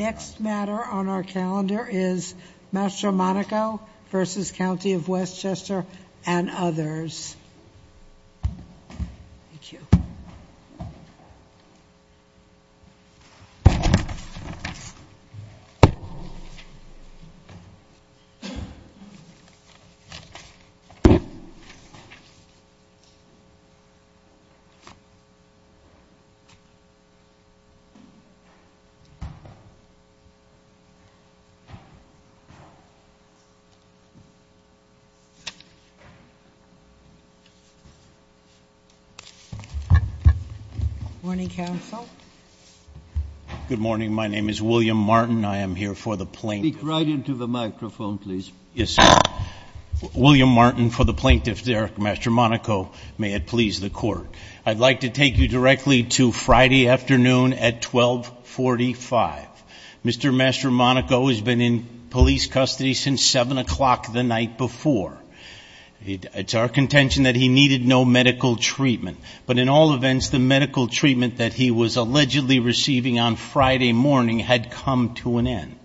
Chester and others. Good morning, my name is William Martin. I am here for the plaintiff. Speak right into the microphone, please. Yes, sir. William Martin for the plaintiff Derek Mastromonaco. May it please the court. I'd like to take you directly to Friday afternoon at 1245. Mr. Mastromonaco has been in police custody since 7 o'clock the night before. It's our contention that he needed no medical treatment, but in all events, the medical treatment that he was allegedly receiving on Friday morning had come to an end.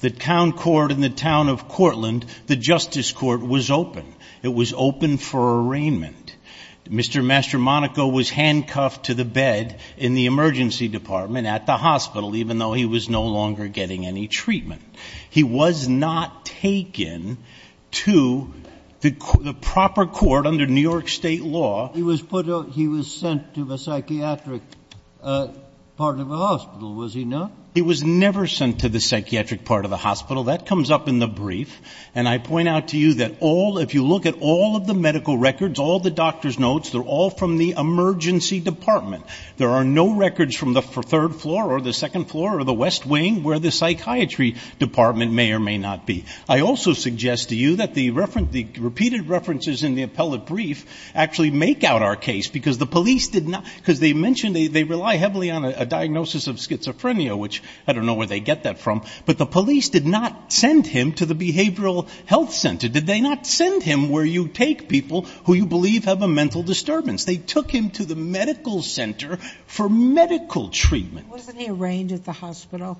The town court in the town of Cortland, the justice court, was open. It was open for arraignment. Mr. Mastromonaco was handcuffed to the bed in the emergency department at the hospital, even though he was no longer getting any treatment. He was not taken to the proper court under New York state law. He was sent to the psychiatric part of the hospital, was he not? He was never sent to the psychiatric part of the hospital. That comes up in the brief. And I point out to you that all if you look at all of the medical records, all the doctor's notes, they're all from the emergency department. There are no records from the third floor or the second floor or the West Wing where the psychiatry department may or may not be. I also suggest to you that the reference the repeated references in the appellate brief actually make out our case because the police did not because they mentioned they rely heavily on a diagnosis of schizophrenia, which I don't know where they get that from, but the police did not send him to the behavioral health center. Did they not send him where you take people who you believe have a mental disturbance? They took him to the medical center for medical treatment. Wasn't he arraigned at the hospital?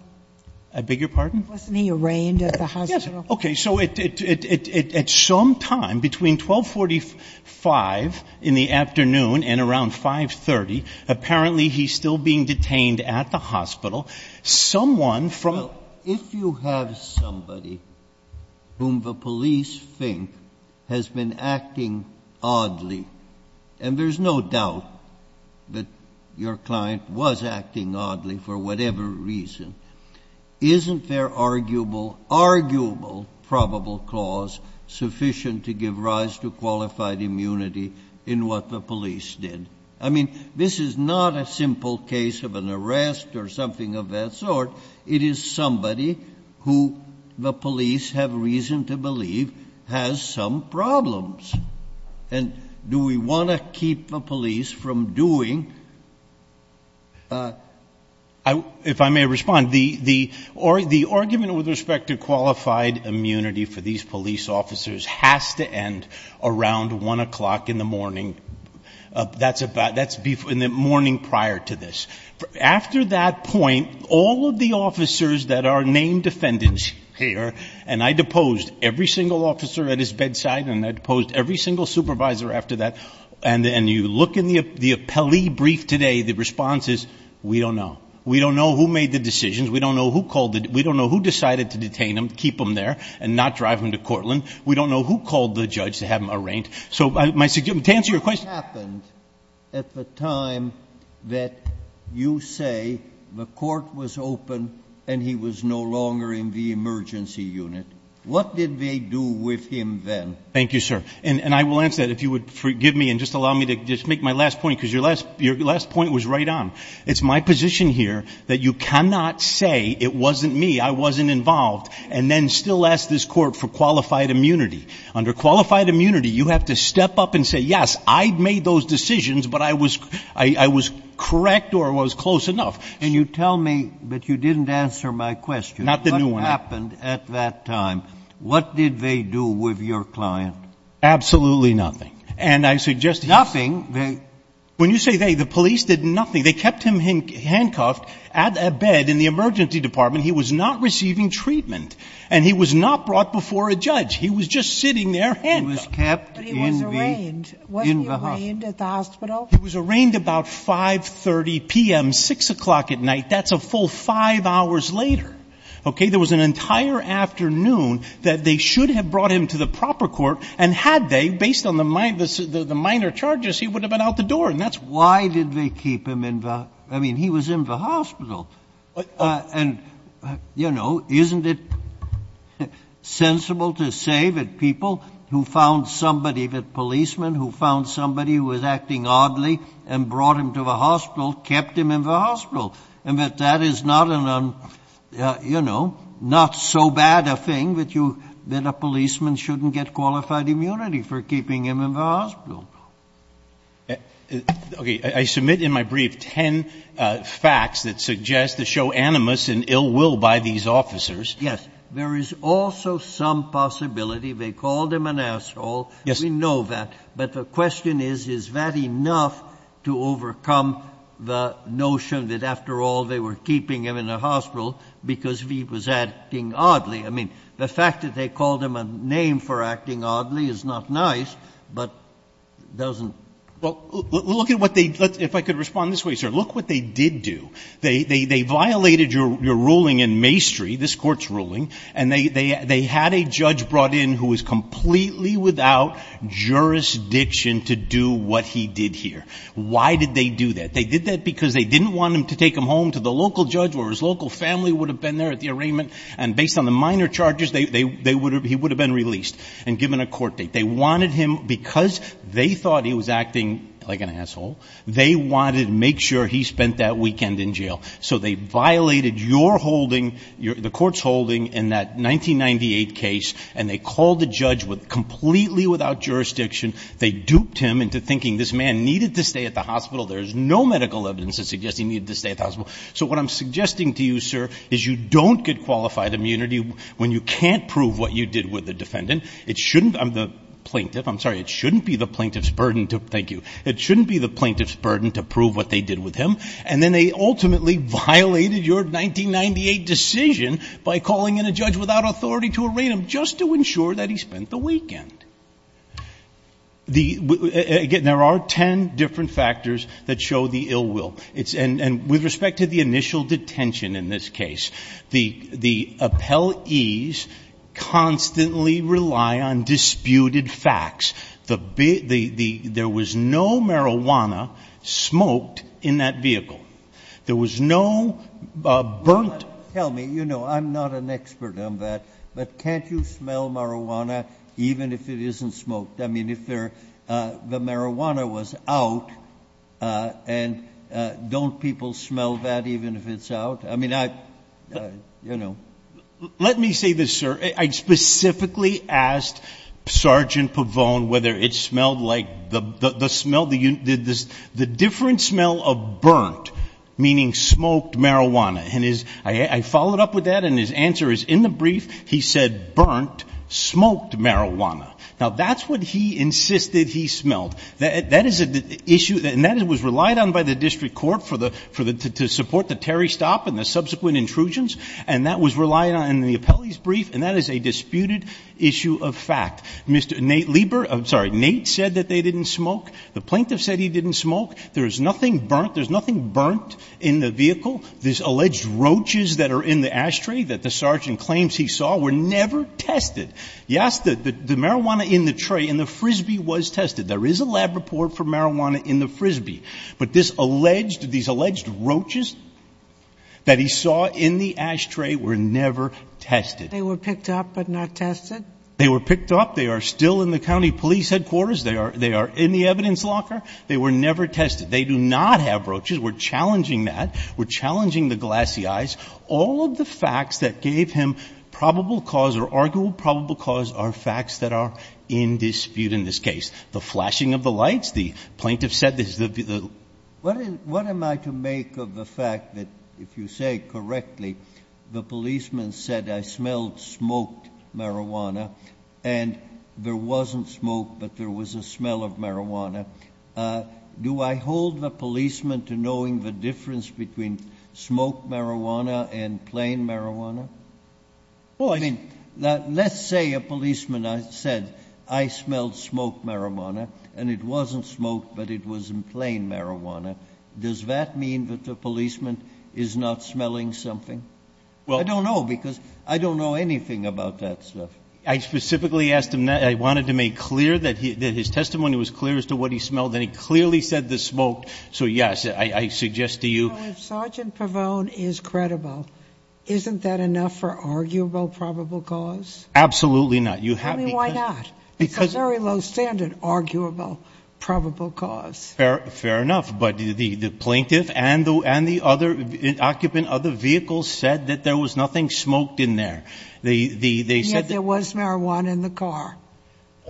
I beg your pardon? Wasn't he arraigned at the hospital? Okay. So at some time between 1245 in the afternoon and around 530, apparently he's still being detained at the hospital. Someone from... If you have somebody whom the police think has been acting oddly, and there's no doubt that your client was acting oddly for whatever reason, isn't their arguable probable cause sufficient to give rise to qualified immunity in what the police did? I mean, this is not a simple case of an arrest or something of that sort. It is somebody who the police have reason to believe has some problems. And do we want to keep the police from doing... If I may respond, the argument with respect to qualified immunity for these police officers has to end around 1 o'clock in the morning. That's in the morning prior to this. After that point, all of the officers that are named defendants here, and I deposed every single officer at his bedside and I deposed every single supervisor after that, and you look in the appellee brief today, the response is, we don't know. We don't know who made the decisions. We don't know who called the... We don't know who decided to detain him, keep him there, and not drive him to Courtland. We don't know who called the judge to have him arraigned. So to answer your question... What happened at the time that you say the court was open and he was no longer in the emergency unit? What did they do with him then? Thank you, sir. And I will answer that if you would forgive me and just allow me to just make my last point because your last point was right on. It's my position here that you cannot say it wasn't me, I wasn't involved, and then still ask this court for qualified immunity. Under qualified immunity, you have to step up and say, yes, I made those decisions, but I was correct or I was close enough. And you tell me that you didn't answer my question. Not the new one. What happened at that time? What did they do with your client? Absolutely nothing. And I suggest... Nothing? When you say they, the police did nothing. They kept him handcuffed at a bed in the emergency department. He was not receiving treatment, and he was not brought before a judge. He was just sitting there handcuffed. He was kept in the hospital. But he was arraigned. Wasn't he arraigned at the hospital? He was arraigned about 5.30 p.m., 6 o'clock at night. That's a full five hours later. Okay? So you say there was an entire afternoon that they should have brought him to the proper court, and had they, based on the minor charges, he would have been out the door, and that's... Why did they keep him in the hospital? I mean, he was in the hospital. And, you know, isn't it sensible to say that people who found somebody, the policeman who found somebody who was acting oddly and brought him to the hospital, kept him in the hospital? And that that is not an, you know, not so bad a thing that you, that a policeman shouldn't get qualified immunity for keeping him in the hospital. Okay. I submit in my brief ten facts that suggest to show animus and ill will by these officers. Yes. There is also some possibility they called him an asshole. Yes. We know that. But the question is, is that enough to overcome the notion that, after all, they were keeping him in the hospital because he was acting oddly? I mean, the fact that they called him a name for acting oddly is not nice, but doesn't... Well, look at what they, if I could respond this way, sir. Look what they did do. They violated your ruling in Mastry, this Court's ruling, and they had a judge brought in who was completely without jurisdiction to do what he did here. Why did they do that? They did that because they didn't want him to take him home to the local judge where his local family would have been there at the arraignment, and based on the minor charges, they, they would have, he would have been released and given a court date. They wanted him, because they thought he was acting like an asshole, they wanted to make sure he spent that weekend in jail. So they violated your holding, the Court's holding, in that 1998 case, and they called a judge with, completely without jurisdiction. They duped him into thinking this man needed to stay at the hospital. There is no medical evidence that suggests he needed to stay at the hospital. So what I'm suggesting to you, sir, is you don't get qualified immunity when you can't prove what you did with the defendant. It shouldn't, the plaintiff, I'm sorry, it shouldn't be the plaintiff's burden to, thank you, it shouldn't be the plaintiff's burden to prove what they did with him. And then they ultimately violated your 1998 decision by calling in a judge without authority to arraign him just to ensure that he spent the weekend. The, again, there are ten different factors that show the ill will. It's, and, and with respect to the initial detention in this case, the, the appellees constantly rely on disputed facts. The, the, the, there was no marijuana smoked in that vehicle. There was no burnt. Well, tell me, you know, I'm not an expert on that, but can't you smell marijuana even if it isn't smoked? I mean, if there, the marijuana was out, and don't people smell that even if it's out? I mean, I, you know. Let me say this, sir. I specifically asked Sergeant Pavone whether it smelled like the, the, the smell, the, the, the different smell of burnt, meaning smoked marijuana. And his, I, I followed up with that, and his answer is in the brief, he said burnt, smoked marijuana. Now, that's what he insisted he smelled. That, that is an issue, and that was relied on by the district court for the, for the, to support the Terry stop and the subsequent intrusions. And that was relied on in the appellee's brief, and that is a disputed issue of fact. Mr. Nate Lieber, I'm sorry, Nate said that they didn't smoke. The plaintiff said he didn't smoke. There is nothing burnt. There's nothing burnt in the vehicle. These alleged roaches that are in the ashtray that the sergeant claims he saw were never tested. Yes, the, the, the marijuana in the tray in the Frisbee was tested. There is a lab report for marijuana in the Frisbee. But this alleged, these alleged roaches that he saw in the ashtray were never tested. They were picked up but not tested? They were picked up. They are still in the county police headquarters. They are, they are in the evidence locker. They were never tested. They do not have roaches. We're challenging that. We're challenging the glassy eyes. All of the facts that gave him probable cause or arguable probable cause are facts that are in dispute in this case. The flashing of the lights. The plaintiff said this. What am I to make of the fact that if you say correctly the policeman said I smelled smoked marijuana and there wasn't smoke but there was a smell of marijuana. Do I hold the policeman to knowing the difference between smoked marijuana and plain marijuana? Well, I mean, let's say a policeman said I smelled smoked marijuana and it wasn't smoke but it was in plain marijuana. Does that mean that the policeman is not smelling something? I don't know because I don't know anything about that stuff. I specifically asked him that. I wanted to make clear that his testimony was clear as to what he smelled and he clearly said the smoke. So, yes, I suggest to you. So if Sergeant Pavone is credible, isn't that enough for arguable probable cause? Absolutely not. I mean, why not? It's a very low standard, arguable probable cause. Fair enough. But the plaintiff and the occupant of the vehicle said that there was nothing smoked in there. Yet there was marijuana in the car.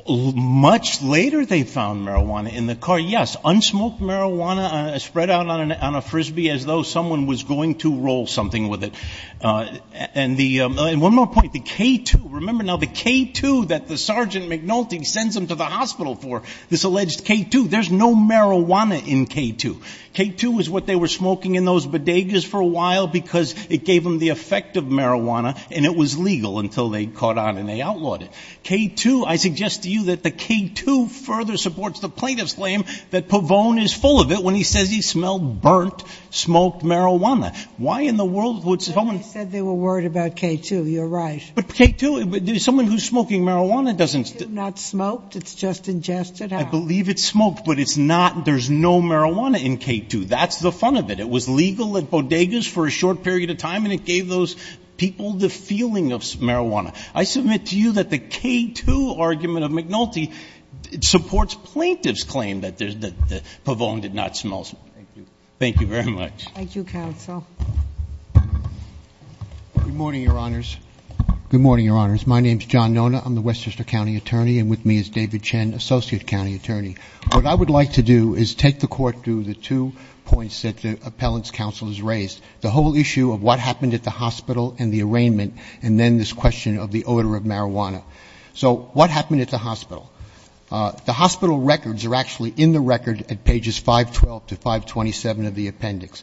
Much later they found marijuana in the car, yes. Unsmoked marijuana spread out on a Frisbee as though someone was going to roll something with it. And one more point, the K2. Remember now the K2 that the Sergeant McNulty sends them to the hospital for, this alleged K2. There's no marijuana in K2. K2 is what they were smoking in those bodegas for a while because it gave them the effect of marijuana and it was legal until they caught on and they outlawed it. K2, I suggest to you that the K2 further supports the plaintiff's claim that Pavone is full of it when he says he smelled burnt, smoked marijuana. Why in the world would someone... But they said they were worried about K2. You're right. But K2, someone who's smoking marijuana doesn't... K2 not smoked. It's just ingested out. I believe it's smoked, but it's not. There's no marijuana in K2. That's the fun of it. It was legal at bodegas for a short period of time and it gave those people the feeling of marijuana. I submit to you that the K2 argument of McNulty supports plaintiff's claim that Pavone did not smoke. Thank you. Thank you very much. Thank you, counsel. Good morning, Your Honors. Good morning, Your Honors. My name is John Nona. I'm the Westchester County attorney and with me is David Chen, associate county attorney. What I would like to do is take the Court through the two points that the appellant's counsel has raised, the whole issue of what happened at the hospital and the arraignment, and then this question of the odor of marijuana. So what happened at the hospital? The hospital records are actually in the record at pages 512 to 527 of the appendix.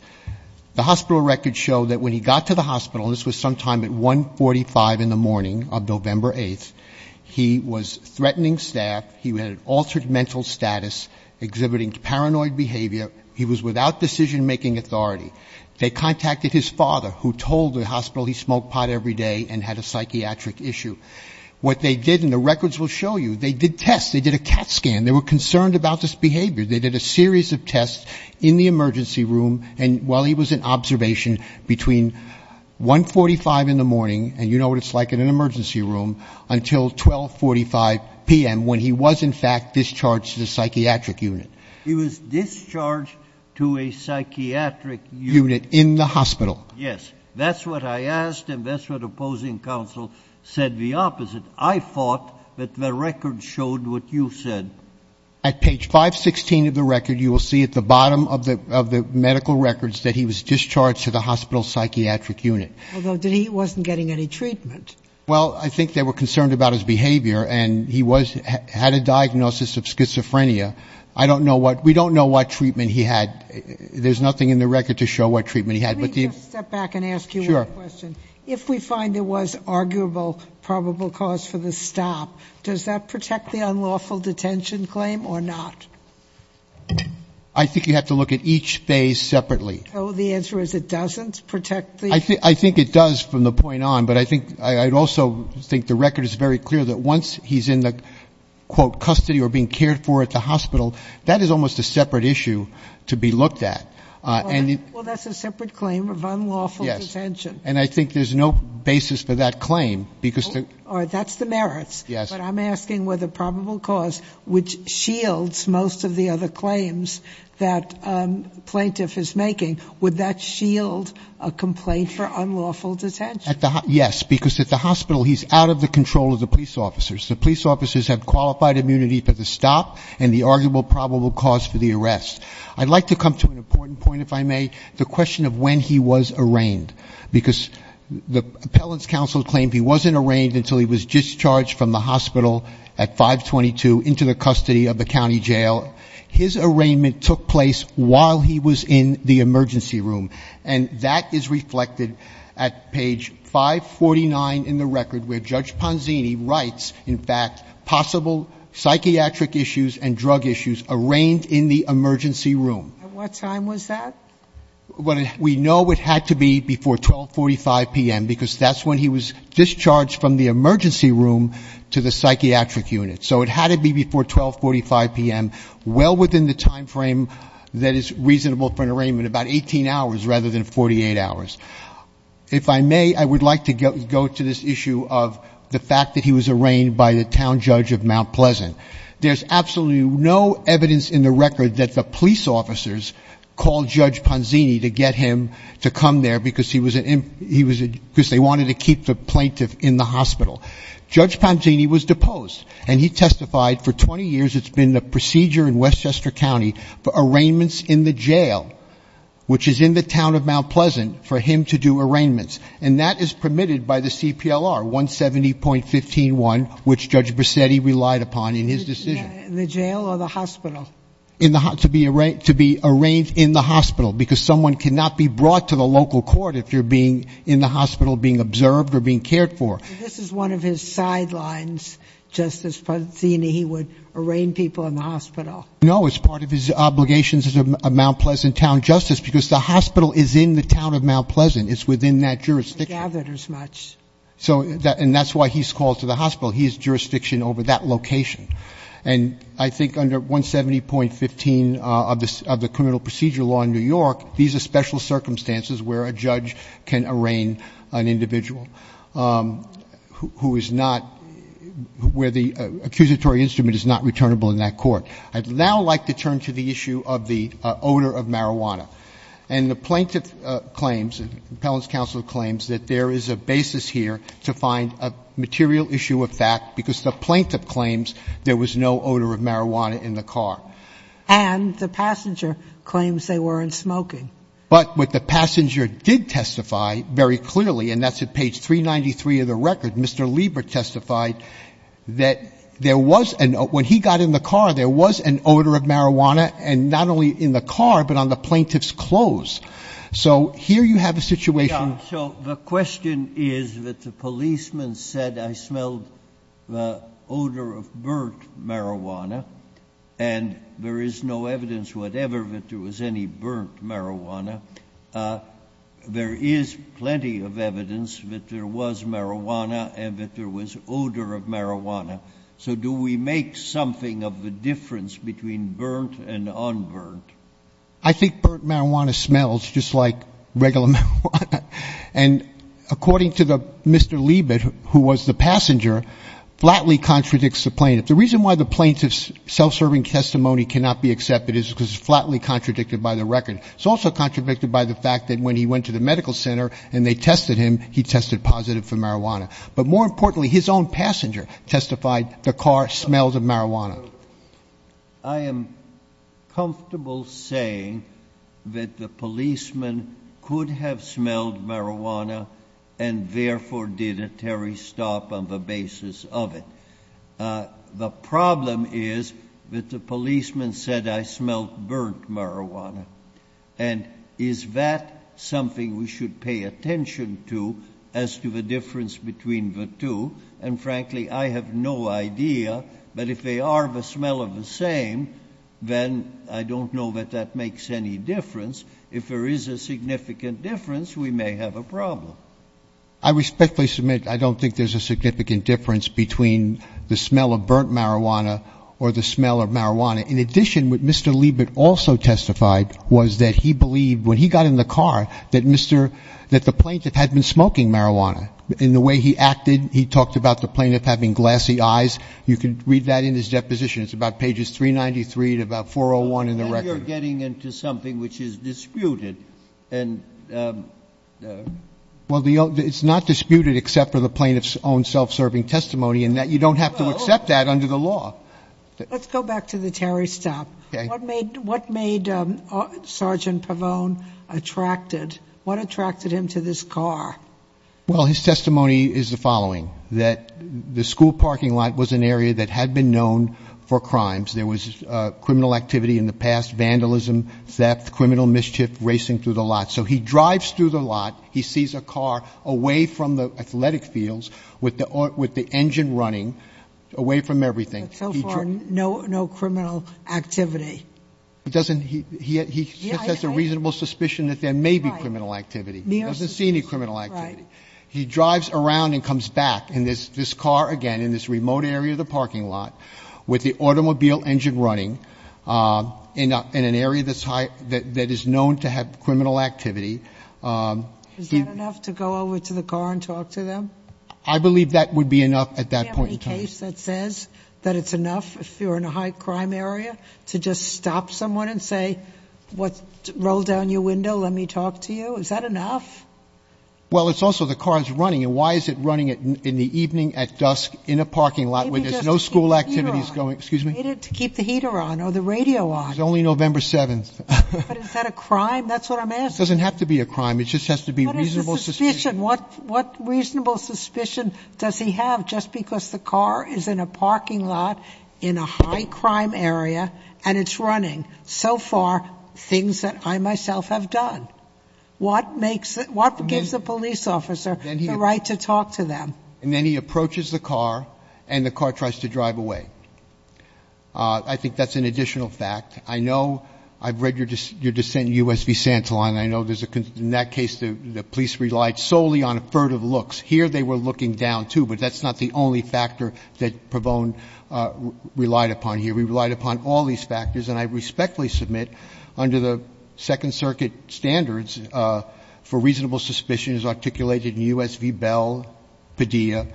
The hospital records show that when he got to the hospital, this was sometime at 145 in the morning of November 8th, he was threatening staff. He had altered mental status, exhibiting paranoid behavior. He was without decision-making authority. They contacted his father, who told the hospital he smoked pot every day and had a psychiatric issue. What they did, and the records will show you, they did tests. They did a CAT scan. They were concerned about this behavior. They did a series of tests in the emergency room, and while he was in observation, between 145 in the morning, and you know what it's like in an emergency room, until 1245 p.m., when he was, in fact, discharged to the psychiatric unit. He was discharged to a psychiatric unit. In the hospital. Yes. That's what I asked, and that's what opposing counsel said the opposite. I thought that the records showed what you said. At page 516 of the record, you will see at the bottom of the medical records, that he was discharged to the hospital psychiatric unit. Although he wasn't getting any treatment. Well, I think they were concerned about his behavior, and he had a diagnosis of schizophrenia. I don't know what, we don't know what treatment he had. There's nothing in the record to show what treatment he had. Let me just step back and ask you one question. Sure. If we find there was arguable probable cause for the stop, does that protect the unlawful detention claim or not? I think you have to look at each phase separately. Oh, the answer is it doesn't protect the. I think it does from the point on, but I also think the record is very clear that once he's in the, quote, custody or being cared for at the hospital, that is almost a separate issue to be looked at. Well, that's a separate claim of unlawful detention. Yes. And I think there's no basis for that claim because. That's the merits. Yes. But I'm asking whether probable cause, which shields most of the other claims that plaintiff is making, would that shield a complaint for unlawful detention? Yes, because at the hospital, he's out of the control of the police officers. The police officers have qualified immunity for the stop and the arguable probable cause for the arrest. I'd like to come to an important point, if I may, the question of when he was arraigned, because the appellant's counsel claimed he wasn't arraigned until he was discharged from the hospital at 522, into the custody of the county jail. His arraignment took place while he was in the emergency room, and that is reflected at page 549 in the record where Judge Ponzini writes, in fact, possible psychiatric issues and drug issues arraigned in the emergency room. At what time was that? We know it had to be before 1245 p.m., because that's when he was discharged from the emergency room to the psychiatric unit. So it had to be before 1245 p.m., well within the time frame that is reasonable for an arraignment, about 18 hours rather than 48 hours. If I may, I would like to go to this issue of the fact that he was arraigned by the town judge of Mount Pleasant. There's absolutely no evidence in the record that the police officers called Judge Ponzini to get him to come there, because he was a ‑‑ because they wanted to keep the plaintiff in the hospital. Judge Ponzini was deposed, and he testified for 20 years it's been the procedure in Westchester County for arraignments in the jail, which is in the town of Mount Pleasant, for him to do arraignments, and that is permitted by the CPLR, 170.15.1, which Judge Bracetti relied upon in his decision. In the jail or the hospital? To be arraigned in the hospital, because someone cannot be brought to the local court if you're being in the hospital being observed or being cared for. So this is one of his sidelines, Justice Ponzini, he would arraign people in the hospital. No, it's part of his obligations as a Mount Pleasant town justice, because the hospital is in the town of Mount Pleasant. It's within that jurisdiction. They're gathered as much. And that's why he's called to the hospital. He has jurisdiction over that location. These are special circumstances where a judge can arraign an individual who is not where the accusatory instrument is not returnable in that court. I'd now like to turn to the issue of the odor of marijuana. And the plaintiff claims, the Appellant's Counsel claims, that there is a basis here to find a material issue of fact, because the plaintiff claims there was no odor of marijuana in the car. And the passenger claims they weren't smoking. But what the passenger did testify very clearly, and that's at page 393 of the record, Mr. Lieber testified that there was an odor. When he got in the car, there was an odor of marijuana, and not only in the car, but on the plaintiff's clothes. So here you have a situation. So the question is that the policeman said, I smelled the odor of burnt marijuana, and there is no evidence whatever that there was any burnt marijuana. There is plenty of evidence that there was marijuana and that there was odor of marijuana. So do we make something of the difference between burnt and unburnt? I think burnt marijuana smells just like regular marijuana. And according to Mr. Lieber, who was the passenger, flatly contradicts the plaintiff. The reason why the plaintiff's self-serving testimony cannot be accepted is because it's flatly contradicted by the record. It's also contradicted by the fact that when he went to the medical center and they tested him, he tested positive for marijuana. But more importantly, his own passenger testified the car smelled of marijuana. I am comfortable saying that the policeman could have smelled marijuana and therefore did a Terry stop on the basis of it. The problem is that the policeman said, I smelled burnt marijuana. And is that something we should pay attention to as to the difference between the two? And frankly, I have no idea. But if they are the smell of the same, then I don't know that that makes any difference. If there is a significant difference, we may have a problem. I respectfully submit I don't think there's a significant difference between the smell of burnt marijuana or the smell of marijuana. In addition, what Mr. Lieber also testified was that he believed, when he got in the car, that the plaintiff had been smoking marijuana. In the way he acted, he talked about the plaintiff having glassy eyes. You can read that in his deposition. It's about pages 393 to about 401 in the record. And you're getting into something which is disputed. Well, it's not disputed except for the plaintiff's own self-serving testimony, and you don't have to accept that under the law. Let's go back to the Terry stop. Okay. What made Sergeant Pavone attracted? What attracted him to this car? Well, his testimony is the following, that the school parking lot was an area that had been known for crimes. There was criminal activity in the past, vandalism, theft, criminal mischief, racing through the lot. So he drives through the lot. He sees a car away from the athletic fields with the engine running, away from everything. But so far, no criminal activity. He has a reasonable suspicion that there may be criminal activity. He doesn't see any criminal activity. He drives around and comes back. And this car, again, in this remote area of the parking lot with the automobile engine running in an area that is known to have criminal activity. Is that enough to go over to the car and talk to them? I believe that would be enough at that point in time. Is there any case that says that it's enough if you're in a high crime area to just stop someone and say, roll down your window, let me talk to you? Is that enough? Well, it's also the car is running. And why is it running in the evening at dusk in a parking lot where there's no school activities going? Excuse me? To keep the heater on or the radio on. It's only November 7th. But is that a crime? That's what I'm asking. It doesn't have to be a crime. It just has to be reasonable suspicion. What reasonable suspicion does he have just because the car is in a parking lot in a high crime area and it's running? So far, things that I myself have done. What gives a police officer the right to talk to them? And then he approaches the car and the car tries to drive away. I think that's an additional fact. I know I've read your dissent in U.S. v. Santelon. I know in that case the police relied solely on affertive looks. Here they were looking down, too. But that's not the only factor that Pravone relied upon here. He relied upon all these factors. And I respectfully submit under the Second Circuit standards for reasonable suspicions articulated in U.S. v. Bell, Padilla,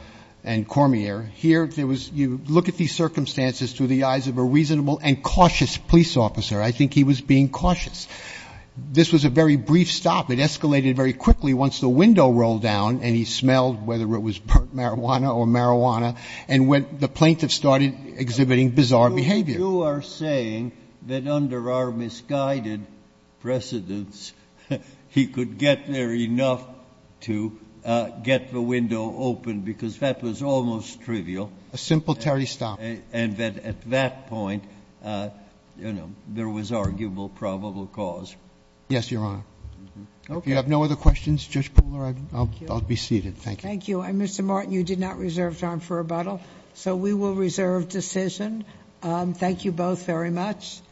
and Cormier. Here you look at these circumstances through the eyes of a reasonable and cautious police officer. I think he was being cautious. This was a very brief stop. It escalated very quickly once the window rolled down and he smelled whether it was burnt marijuana or marijuana and when the plaintiff started exhibiting bizarre behavior. You are saying that under our misguided precedence he could get there enough to get the window open because that was almost trivial. A simple Terry stop. And that at that point, you know, there was arguable probable cause. Yes, Your Honor. Okay. If you have no other questions, Judge Pooler, I'll be seated. Thank you. And Mr. Martin, you did not reserve time for rebuttal, so we will reserve decision. Thank you both very much.